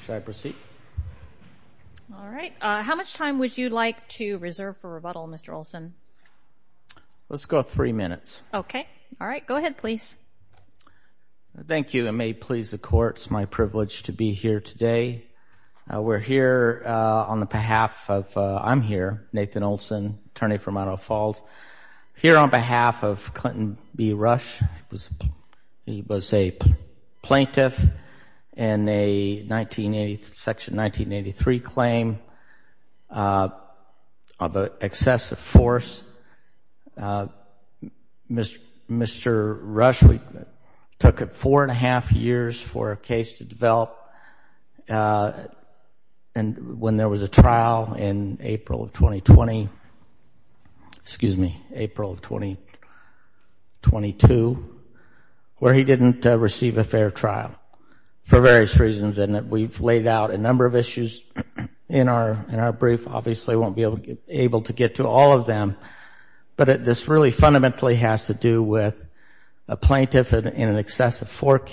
Should I proceed? All right. How much time would you like to reserve for rebuttal, Mr. Olson? Let's go three minutes. Okay. All right. Go ahead, please. Thank you, and may it please the Court, it's my privilege to be here today. We're here on the behalf of—I'm here, Nathan Olson, attorney from Idaho Falls, here on behalf of Clinton B. Rush. He was a plaintiff in a section 1983 claim of excessive force. Mr. Rush, we took four and a half years for a case to develop. And when there was a trial in April of 2020—excuse me, April of 2022, where he didn't receive a fair trial for various reasons, and we've laid out a number of issues in our brief. Obviously, I won't be able to get to all of them, but this really fundamentally has to do with a plaintiff in an excessive force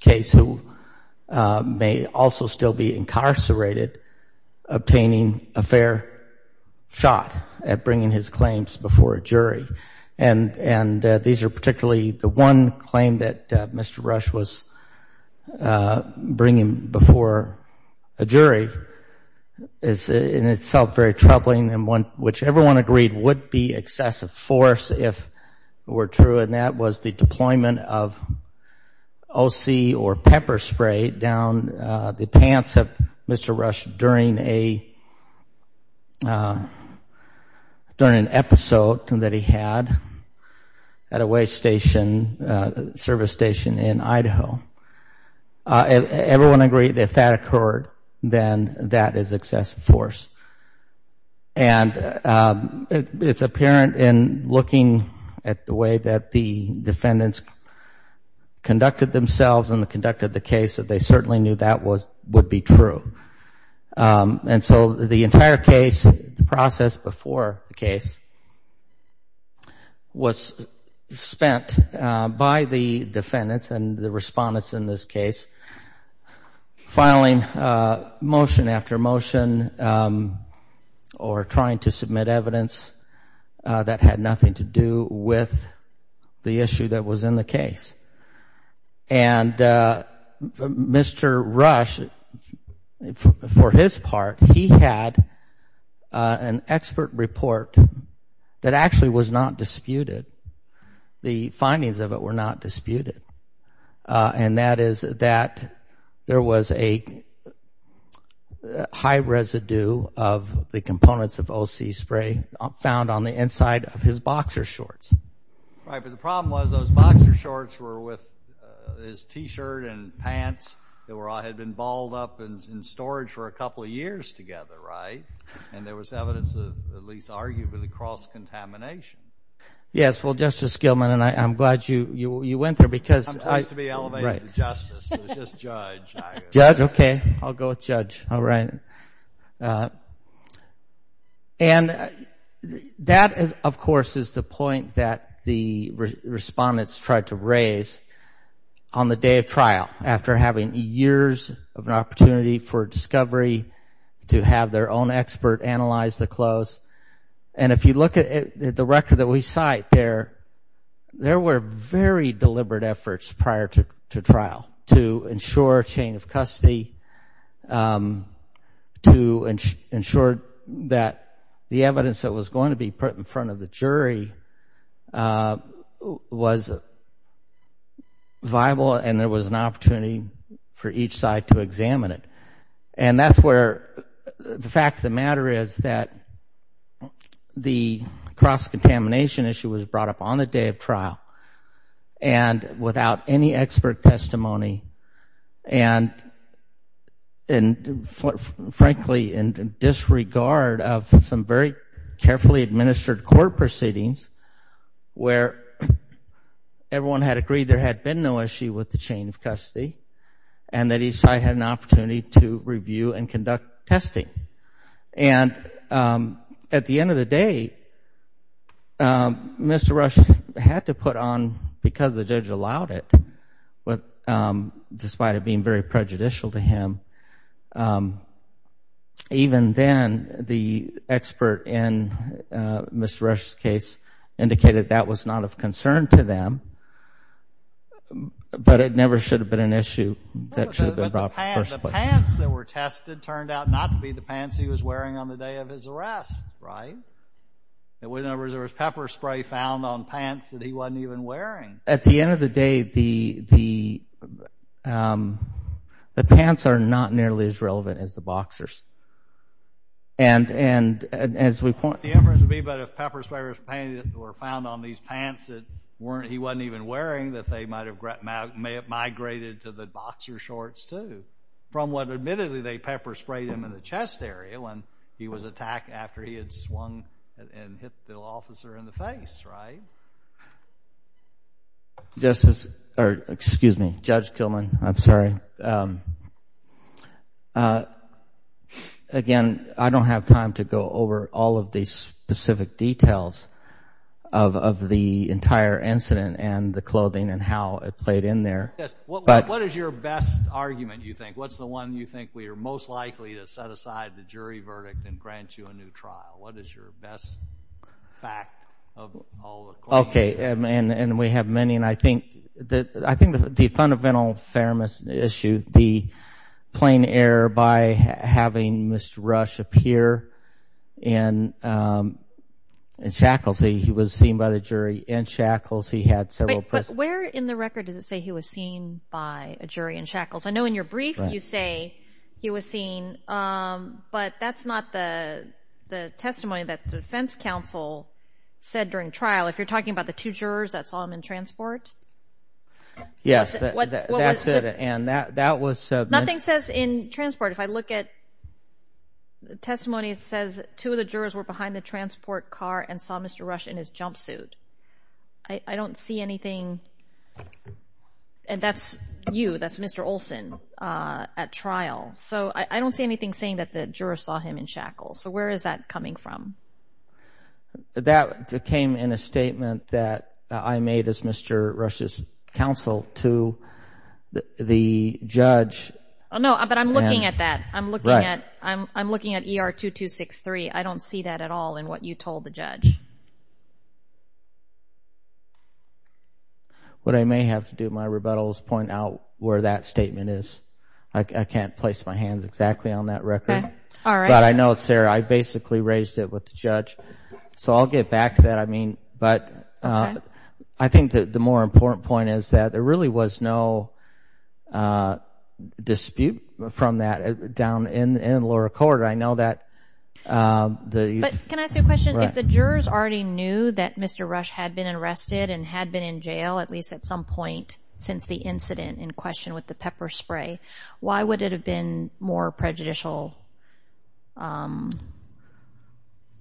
case who may also still be incarcerated obtaining a fair shot at bringing his claims before a jury. And these are particularly—the one claim that Mr. Rush was bringing before a jury is in itself very troubling, and which everyone agreed would be excessive force if it were true, and that was the deployment of O.C. or pepper spray down the pants of Mr. Rush during a— during an episode that he had at a waste station, service station in Idaho. Everyone agreed if that occurred, then that is excessive force. And it's apparent in looking at the way that the defendants conducted themselves and conducted the case that they certainly knew that would be true. And so the entire case, the process before the case, was spent by the defendants and the respondents in this case filing motion after motion or trying to submit evidence that had nothing to do with the issue that was in the case. And Mr. Rush, for his part, he had an expert report that actually was not disputed. The findings of it were not disputed. And that is that there was a high residue of the components of O.C. spray found on the inside of his boxer shorts. Right, but the problem was those boxer shorts were with his T-shirt and pants that had been balled up in storage for a couple of years together, right? And there was evidence of at least arguably cross-contamination. Yes, well, Justice Gilman, and I'm glad you went there because— I used to be elevated to justice. It was just judge. Judge, okay. I'll go with judge. All right. And that, of course, is the point that the respondents tried to raise on the day of trial after having years of an opportunity for discovery to have their own expert analyze the clothes. And if you look at the record that we cite there, there were very deliberate efforts prior to trial to ensure chain of custody, to ensure that the evidence that was going to be put in front of the jury was viable and there was an opportunity for each side to examine it. And that's where the fact of the matter is that the cross-contamination issue was brought up on the day of trial and without any expert testimony and frankly in disregard of some very carefully administered court proceedings where everyone had agreed there had been no issue with the chain of custody and that each side had an opportunity to review and conduct testing. And at the end of the day, Mr. Rush had to put on, because the judge allowed it, despite it being very prejudicial to him, even then the expert in Mr. Rush's case indicated that was not of concern to them, but it never should have been an issue that should have been brought up in the first place. But the pants that were tested turned out not to be the pants he was wearing on the day of his arrest, right? There was pepper spray found on pants that he wasn't even wearing. At the end of the day, the pants are not nearly as relevant as the boxers. And as we point— The inference would be that if pepper spray was found on these pants that he wasn't even wearing, that they might have migrated to the boxer shorts, too, from what admittedly they pepper sprayed him in the chest area when he was attacked after he had swung and hit the officer in the face, right? Justice—or excuse me, Judge Gilman, I'm sorry. Again, I don't have time to go over all of the specific details of the entire incident and the clothing and how it played in there. What is your best argument, you think? What's the one you think we are most likely to set aside the jury verdict and grant you a new trial? What is your best fact of all the claims? Okay. And we have many, and I think the fundamental fairness issue, the plain error by having Mr. Rush appear in shackles. He was seen by the jury in shackles. He had several— But where in the record does it say he was seen by a jury in shackles? I know in your brief you say he was seen, but that's not the testimony that the defense counsel said during trial. If you're talking about the two jurors that saw him in transport? Yes, that's it, and that was— Nothing says in transport. If I look at the testimony, it says two of the jurors were behind the transport car and saw Mr. Rush in his jumpsuit. I don't see anything—and that's you, that's Mr. Olson at trial. So I don't see anything saying that the jurors saw him in shackles. So where is that coming from? That came in a statement that I made as Mr. Rush's counsel to the judge. No, but I'm looking at that. I'm looking at ER-2263. I don't see that at all in what you told the judge. What I may have to do in my rebuttal is point out where that statement is. I can't place my hands exactly on that record. All right. But I know, Sarah, I basically raised it with the judge. So I'll get back to that. I think the more important point is that there really was no dispute from that down in the lower court. I know that the— But can I ask you a question? If the jurors already knew that Mr. Rush had been arrested and had been in jail, at least at some point since the incident in question with the pepper spray, why would it have been more prejudicial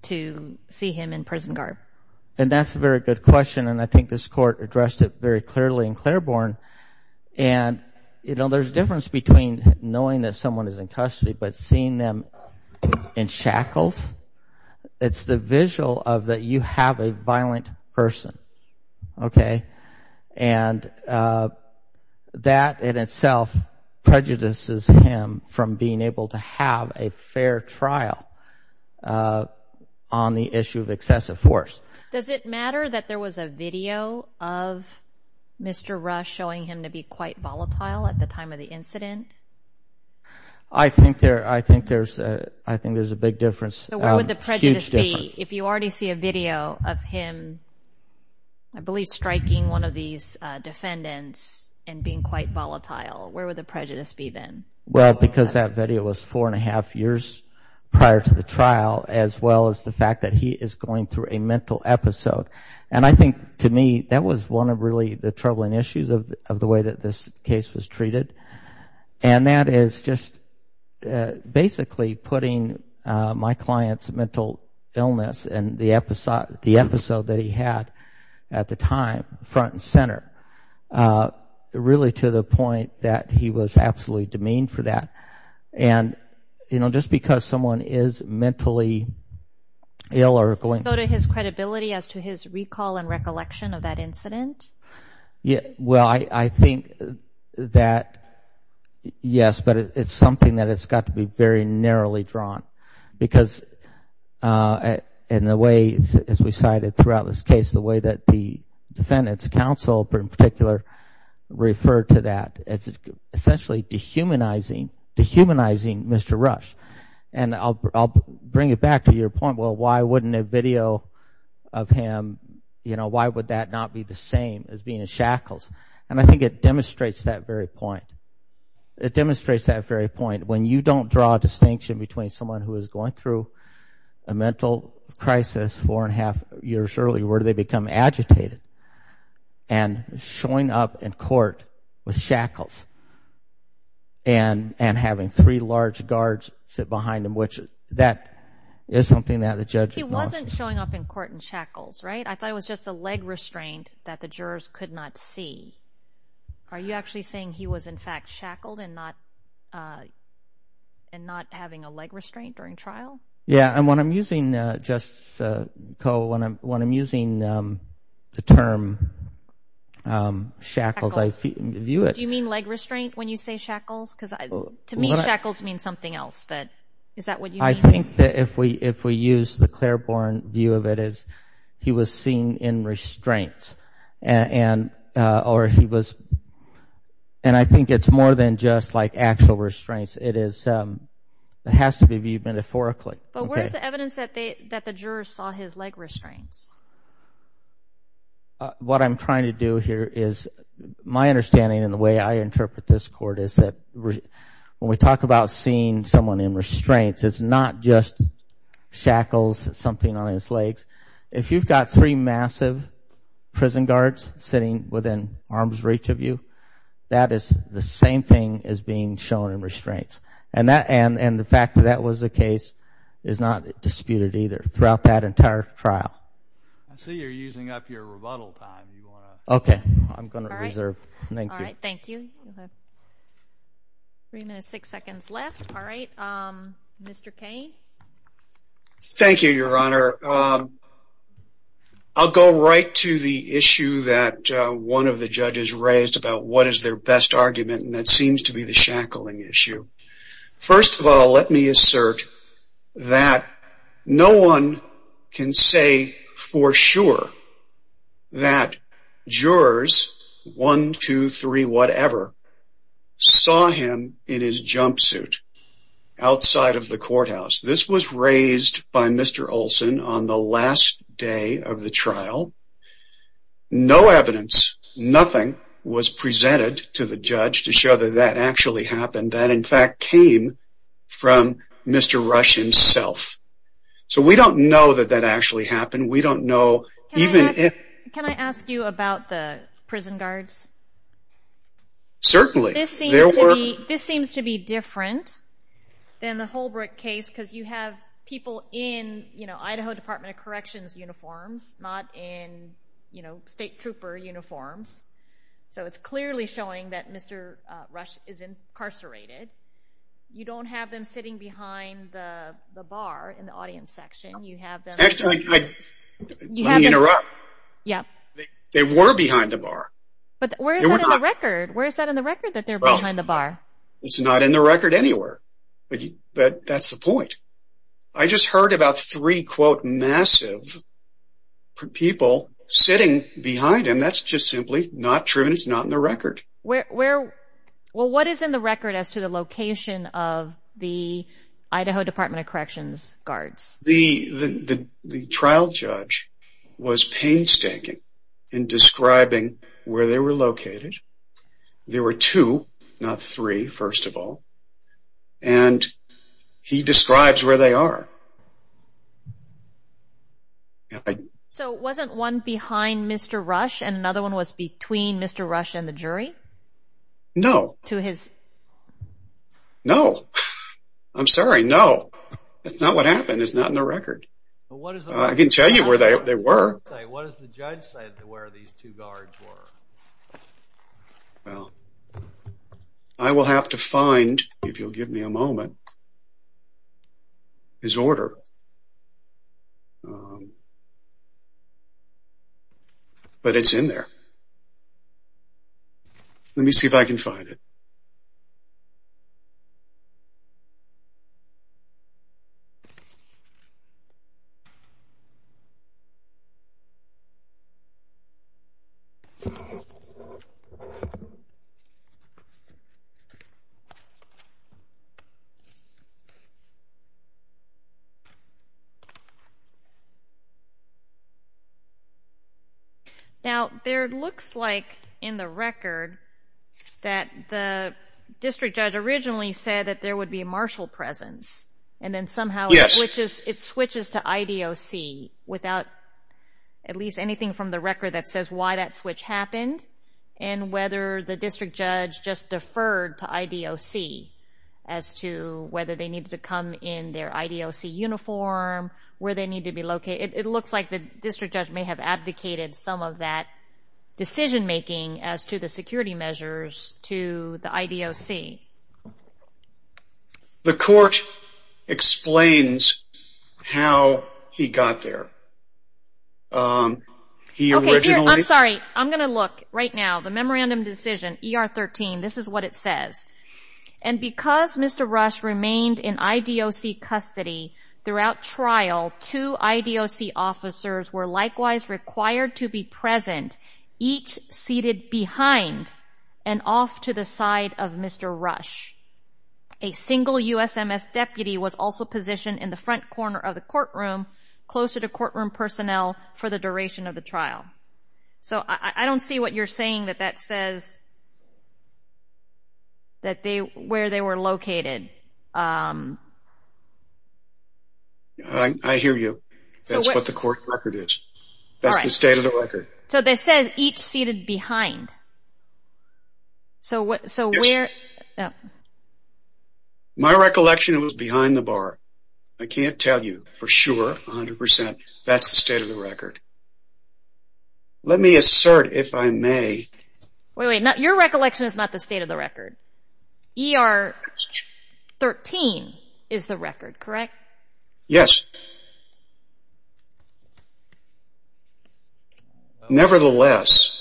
to see him in prison guard? And that's a very good question. And I think this court addressed it very clearly in Claiborne. And, you know, there's a difference between knowing that someone is in custody but seeing them in shackles. It's the visual of that you have a violent person. Okay. And that in itself prejudices him from being able to have a fair trial on the issue of excessive force. Does it matter that there was a video of Mr. Rush showing him to be quite volatile at the time of the incident? I think there's a big difference. So where would the prejudice be? If you already see a video of him, I believe, striking one of these defendants and being quite volatile, where would the prejudice be then? Well, because that video was four and a half years prior to the trial, as well as the fact that he is going through a mental episode. And I think, to me, that was one of really the troubling issues of the way that this case was treated. And that is just basically putting my client's mental illness and the episode that he had at the time front and center, really to the point that he was absolutely demeaned for that. And, you know, just because someone is mentally ill or going to go to his credibility as to his recall and recollection of that incident? Well, I think that, yes, but it's something that has got to be very narrowly drawn. Because in the way, as we cited throughout this case, the way that the defendant's counsel, in particular, referred to that, it's essentially dehumanizing Mr. Rush. And I'll bring it back to your point, well, why wouldn't a video of him, you know, why would that not be the same as being in shackles? And I think it demonstrates that very point. It demonstrates that very point. When you don't draw a distinction between someone who is going through a mental crisis four and a half years early, where do they become agitated? And showing up in court with shackles and having three large guards sit behind him, which that is something that the judge acknowledges. He's not showing up in court in shackles, right? I thought it was just a leg restraint that the jurors could not see. Are you actually saying he was, in fact, shackled and not having a leg restraint during trial? Yeah, and when I'm using, Justice Koh, when I'm using the term shackles, I view it. Do you mean leg restraint when you say shackles? Because to me shackles means something else, but is that what you mean? I think that if we use the Claiborne view of it as he was seen in restraints or he was, and I think it's more than just like actual restraints. It has to be viewed metaphorically. But where is the evidence that the jurors saw his leg restraints? What I'm trying to do here is my understanding and the way I interpret this court is that when we talk about seeing someone in restraints, it's not just shackles, something on his legs. If you've got three massive prison guards sitting within arm's reach of you, that is the same thing as being shown in restraints. And the fact that that was the case is not disputed either throughout that entire trial. I see you're using up your rebuttal time. Okay, I'm going to reserve. All right, thank you. Three minutes, six seconds left. All right, Mr. Cain. Thank you, Your Honor. I'll go right to the issue that one of the judges raised about what is their best argument, and that seems to be the shackling issue. First of all, let me assert that no one can say for sure that jurors, one, two, three, whatever, saw him in his jumpsuit outside of the courthouse. This was raised by Mr. Olson on the last day of the trial. No evidence, nothing was presented to the judge to show that that actually happened, that in fact came from Mr. Rush himself. So we don't know that that actually happened. We don't know even if... Can I ask you about the prison guards? Certainly. This seems to be different than the Holbrooke case because you have people in, you know, Idaho Department of Corrections uniforms, not in, you know, state trooper uniforms. So it's clearly showing that Mr. Rush is incarcerated. You don't have them sitting behind the bar in the audience section. You have them... Actually, let me interrupt. They were behind the bar. But where is that in the record? Where is that in the record that they're behind the bar? It's not in the record anywhere, but that's the point. I just heard about three, quote, massive people sitting behind him. And that's just simply not true, and it's not in the record. Well, what is in the record as to the location of the Idaho Department of Corrections guards? The trial judge was painstaking in describing where they were located. There were two, not three, first of all. And he describes where they are. So wasn't one behind Mr. Rush and another one was between Mr. Rush and the jury? No. To his... No. I'm sorry, no. That's not what happened. It's not in the record. I can tell you where they were. What does the judge say where these two guards were? Well, I will have to find, if you'll give me a moment, his order. But it's in there. Let me see if I can find it. Now, there looks like in the record that the district judge originally said that there would be a marshal presence. And then somehow it switches to IDOC without at least anything from the record that says why that switch happened and whether the district judge just deferred to IDOC as to whether they needed to come in their IDOC uniform, where they needed to be located. It looks like the district judge may have advocated some of that decision-making as to the security measures to the IDOC. The court explains how he got there. He originally... I'm sorry. I'm going to look right now. The memorandum decision, ER 13, this is what it says. And because Mr. Rush remained in IDOC custody throughout trial, two IDOC officers were likewise required to be present, each seated behind and off to the side of Mr. Rush. A single USMS deputy was also positioned in the front corner of the courtroom, closer to courtroom personnel for the duration of the trial. So I don't see what you're saying that that says where they were located. I hear you. That's what the court record is. That's the state of the record. So they said each seated behind. So where... Yes. My recollection, it was behind the bar. I can't tell you for sure, 100%. That's the state of the record. Let me assert, if I may... Wait, wait. Your recollection is not the state of the record. ER 13 is the record, correct? Yes. Nevertheless,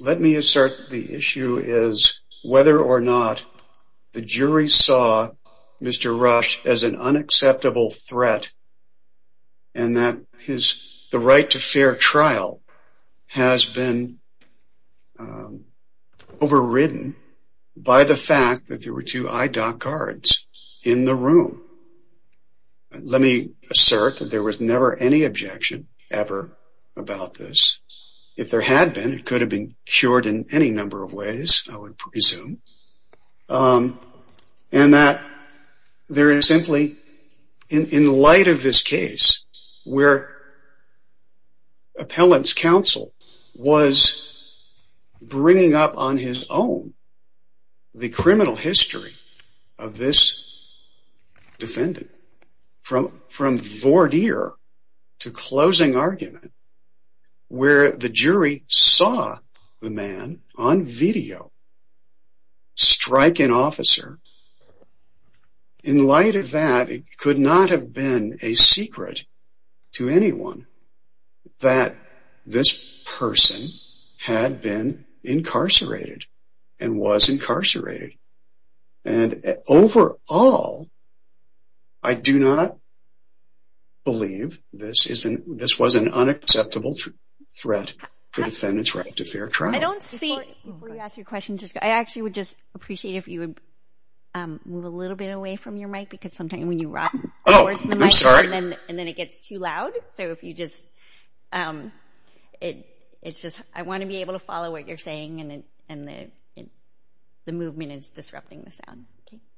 let me assert the issue is whether or not the jury saw Mr. Rush as an unacceptable threat and that the right to fair trial has been overridden by the fact that there were two IDOC guards in the room. Let me assert that there was never any objection ever about this. If there had been, it could have been cured in any number of ways, I would presume. And that there is simply, in light of this case, where appellant's counsel was bringing up on his own the criminal history of this defendant, from voir dire to closing argument, where the jury saw the man on video strike an officer. In light of that, it could not have been a secret to anyone that this person had been incarcerated and was incarcerated. And overall, I do not believe this was an unacceptable threat to the defendant's right to fair trial. I don't see... Before you ask your question, I actually would just appreciate if you would move a little bit away from your mic, because sometimes when you rock towards the mic, and then it gets too loud. So if you just... It's just, I want to be able to follow what you're saying, and the movement is disrupting the sound.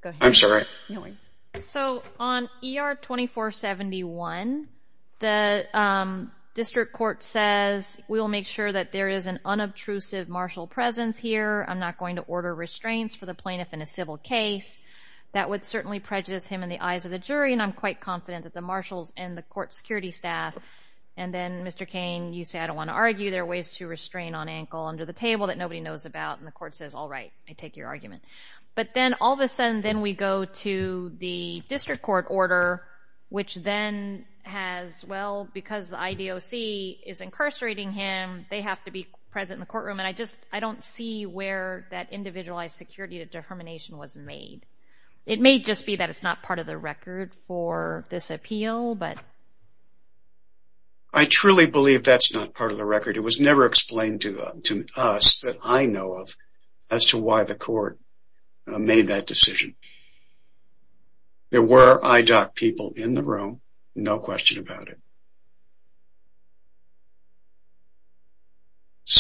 Go ahead. I'm sorry. No worries. So on ER 2471, the district court says, we will make sure that there is an unobtrusive martial presence here. I'm not going to order restraints for the plaintiff in a civil case. That would certainly prejudice him in the eyes of the jury, and I'm quite confident that the marshals and the court security staff... And then, Mr. Cain, you say, I don't want to argue. There are ways to restrain on ankle under the table that nobody knows about, and the court says, all right, I take your argument. But then all of a sudden, then we go to the district court order, which then has... Well, because the IDOC is incarcerating him, they have to be present in the courtroom, and I don't see where that individualized security to determination was made. It may just be that it's not part of the record for this appeal, but... I truly believe that's not part of the record. It was never explained to us that I know of as to why the court made that decision. There were IDOC people in the room, no question about it.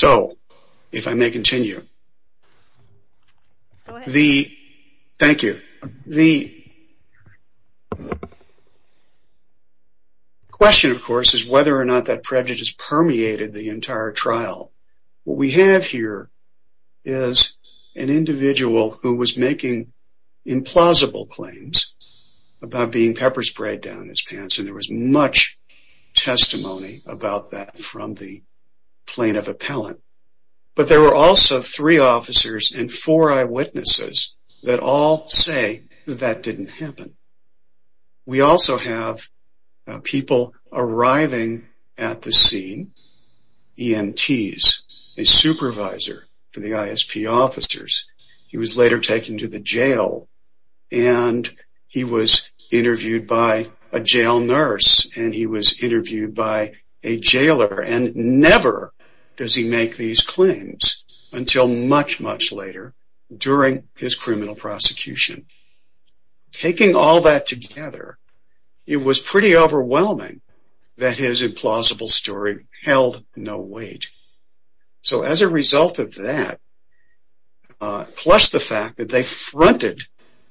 Go ahead. Thank you. The question, of course, is whether or not that prejudice permeated the entire trial. What we have here is an individual who was making implausible claims about being pepper-sprayed down his pants, and there was much testimony about that from the plaintiff appellant. But there were also three officers and four eyewitnesses that all say that that didn't happen. We also have people arriving at the scene, EMTs, a supervisor for the ISP officers. He was later taken to the jail, and he was interviewed by a jail nurse, and he was interviewed by a jailer, and never does he make these claims until much, much later during his criminal prosecution. Taking all that together, it was pretty overwhelming that his implausible story held no weight. As a result of that, plus the fact that they fronted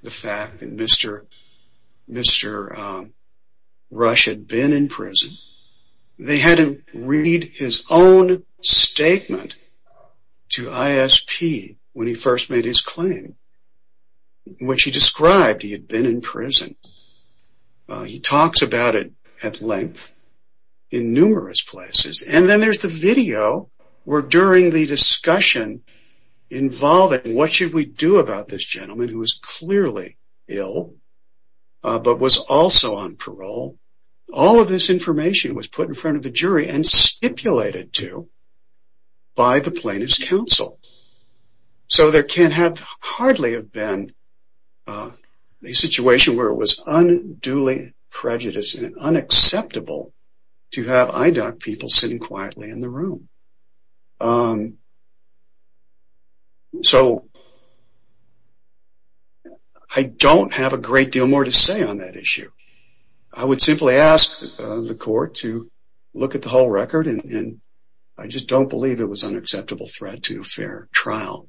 the fact that Mr. Rush had been in prison, they had him read his own statement to ISP when he first made his claim, in which he described he had been in prison. He talks about it at length in numerous places. And then there's the video, where during the discussion involving what should we do about this gentleman who was clearly ill, but was also on parole, all of this information was put in front of the jury and stipulated to by the plaintiff's counsel. So there can hardly have been a situation where it was unduly prejudiced and unacceptable to have IDOC people sitting quietly in the room. So I don't have a great deal more to say on that issue. I would simply ask the court to look at the whole record, and I just don't believe it was an acceptable threat to a fair trial.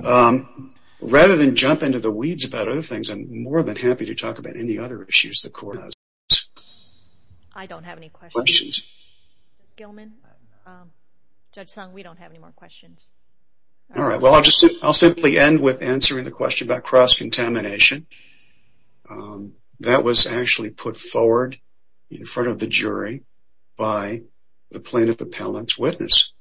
Rather than jump into the weeds about other things, I'm more than happy to talk about any other issues the court has with this. I don't have any questions. Gilman, Judge Sung, we don't have any more questions. Alright, well I'll simply end with answering the question about cross-contamination. That was actually put forward in front of the jury by the plaintiff appellant's witness.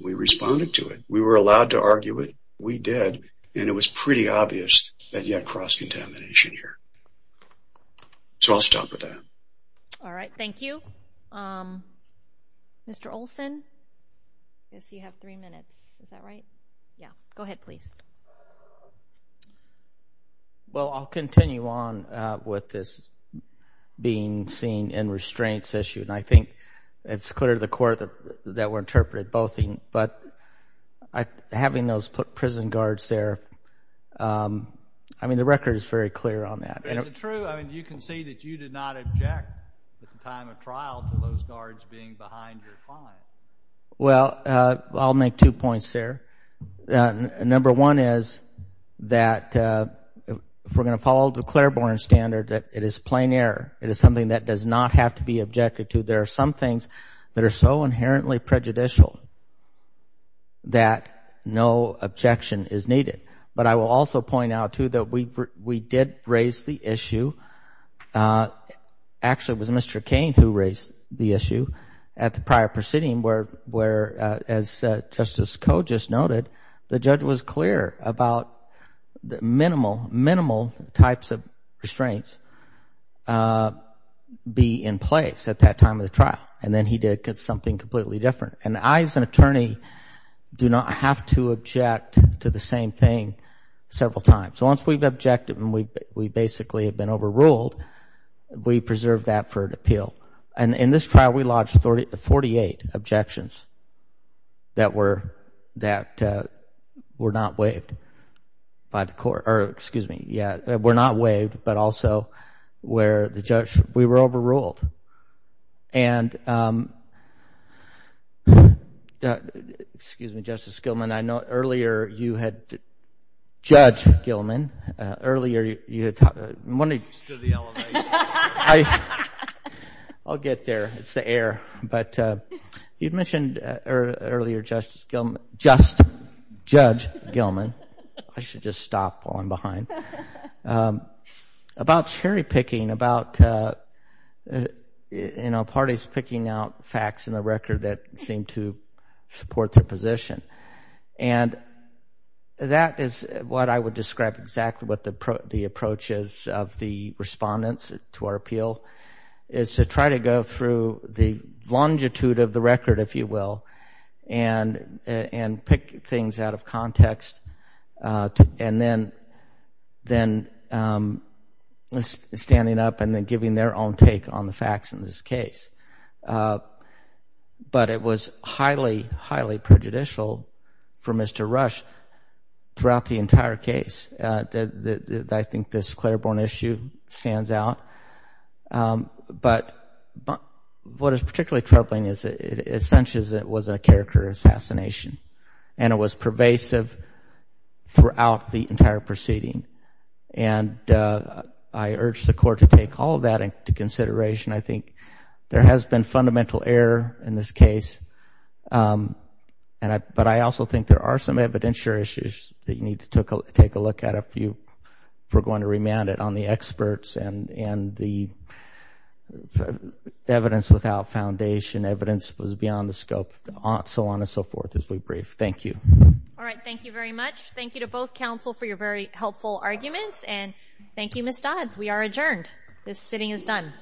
We responded to it, we were allowed to argue it, we did, and it was pretty obvious that he had cross-contamination here. So I'll stop with that. Alright, thank you. Mr. Olson, I guess you have three minutes. Is that right? Yeah. Go ahead, please. Well, I'll continue on with this being seen in restraints issue, and I think it's clear to the court that we're interpreting both. But having those prison guards there, I mean, the record is very clear on that. Is it true? I mean, you can say that you did not object at the time of trial to those guards being behind your client. Well, I'll make two points there. Number one is that if we're going to follow the Claiborne standard, it is plain error. It is something that does not have to be objected to. There are some things that are so inherently prejudicial that no objection is needed. But I will also point out, too, that we did raise the issue. Actually, it was Mr. Cain who raised the issue at the prior proceeding where, as Justice Koh just noted, the judge was clear about the minimal, minimal types of restraints be in place at that time of the trial. And then he did something completely different. And I, as an attorney, do not have to object to the same thing several times. So once we've objected and we basically have been overruled, we preserve that for an appeal. And in this trial, we lodged 48 objections that were not waived by the court. Or, excuse me, yeah, were not waived but also where the judge, we were overruled. And, excuse me, Justice Gilman, I know earlier you had, Judge Gilman, earlier you had, I'm wondering. I'll get there. It's the air. But you'd mentioned earlier, Justice Gilman, just Judge Gilman. I should just stop falling behind. About cherry picking, about, you know, parties picking out facts in the record that seem to support their position. And that is what I would describe exactly what the approach is of the respondents to our appeal, is to try to go through the longitude of the record, if you will, and pick things out of context. And then standing up and then giving their own take on the facts in this case. But it was highly, highly prejudicial for Mr. Rush throughout the entire case. I think this Clairborn issue stands out. But what is particularly troubling is it essentially was a character assassination. And it was pervasive throughout the entire proceeding. And I urge the court to take all of that into consideration. I think there has been fundamental error in this case. But I also think there are some evidentiary issues that you need to take a look at, if you were going to remand it, on the experts and the evidence without foundation, evidence that was beyond the scope, so on and so forth, as we brief. Thank you. All right. Thank you very much. Thank you to both counsel for your very helpful arguments. And thank you, Ms. Dodds. We are adjourned. This sitting is done.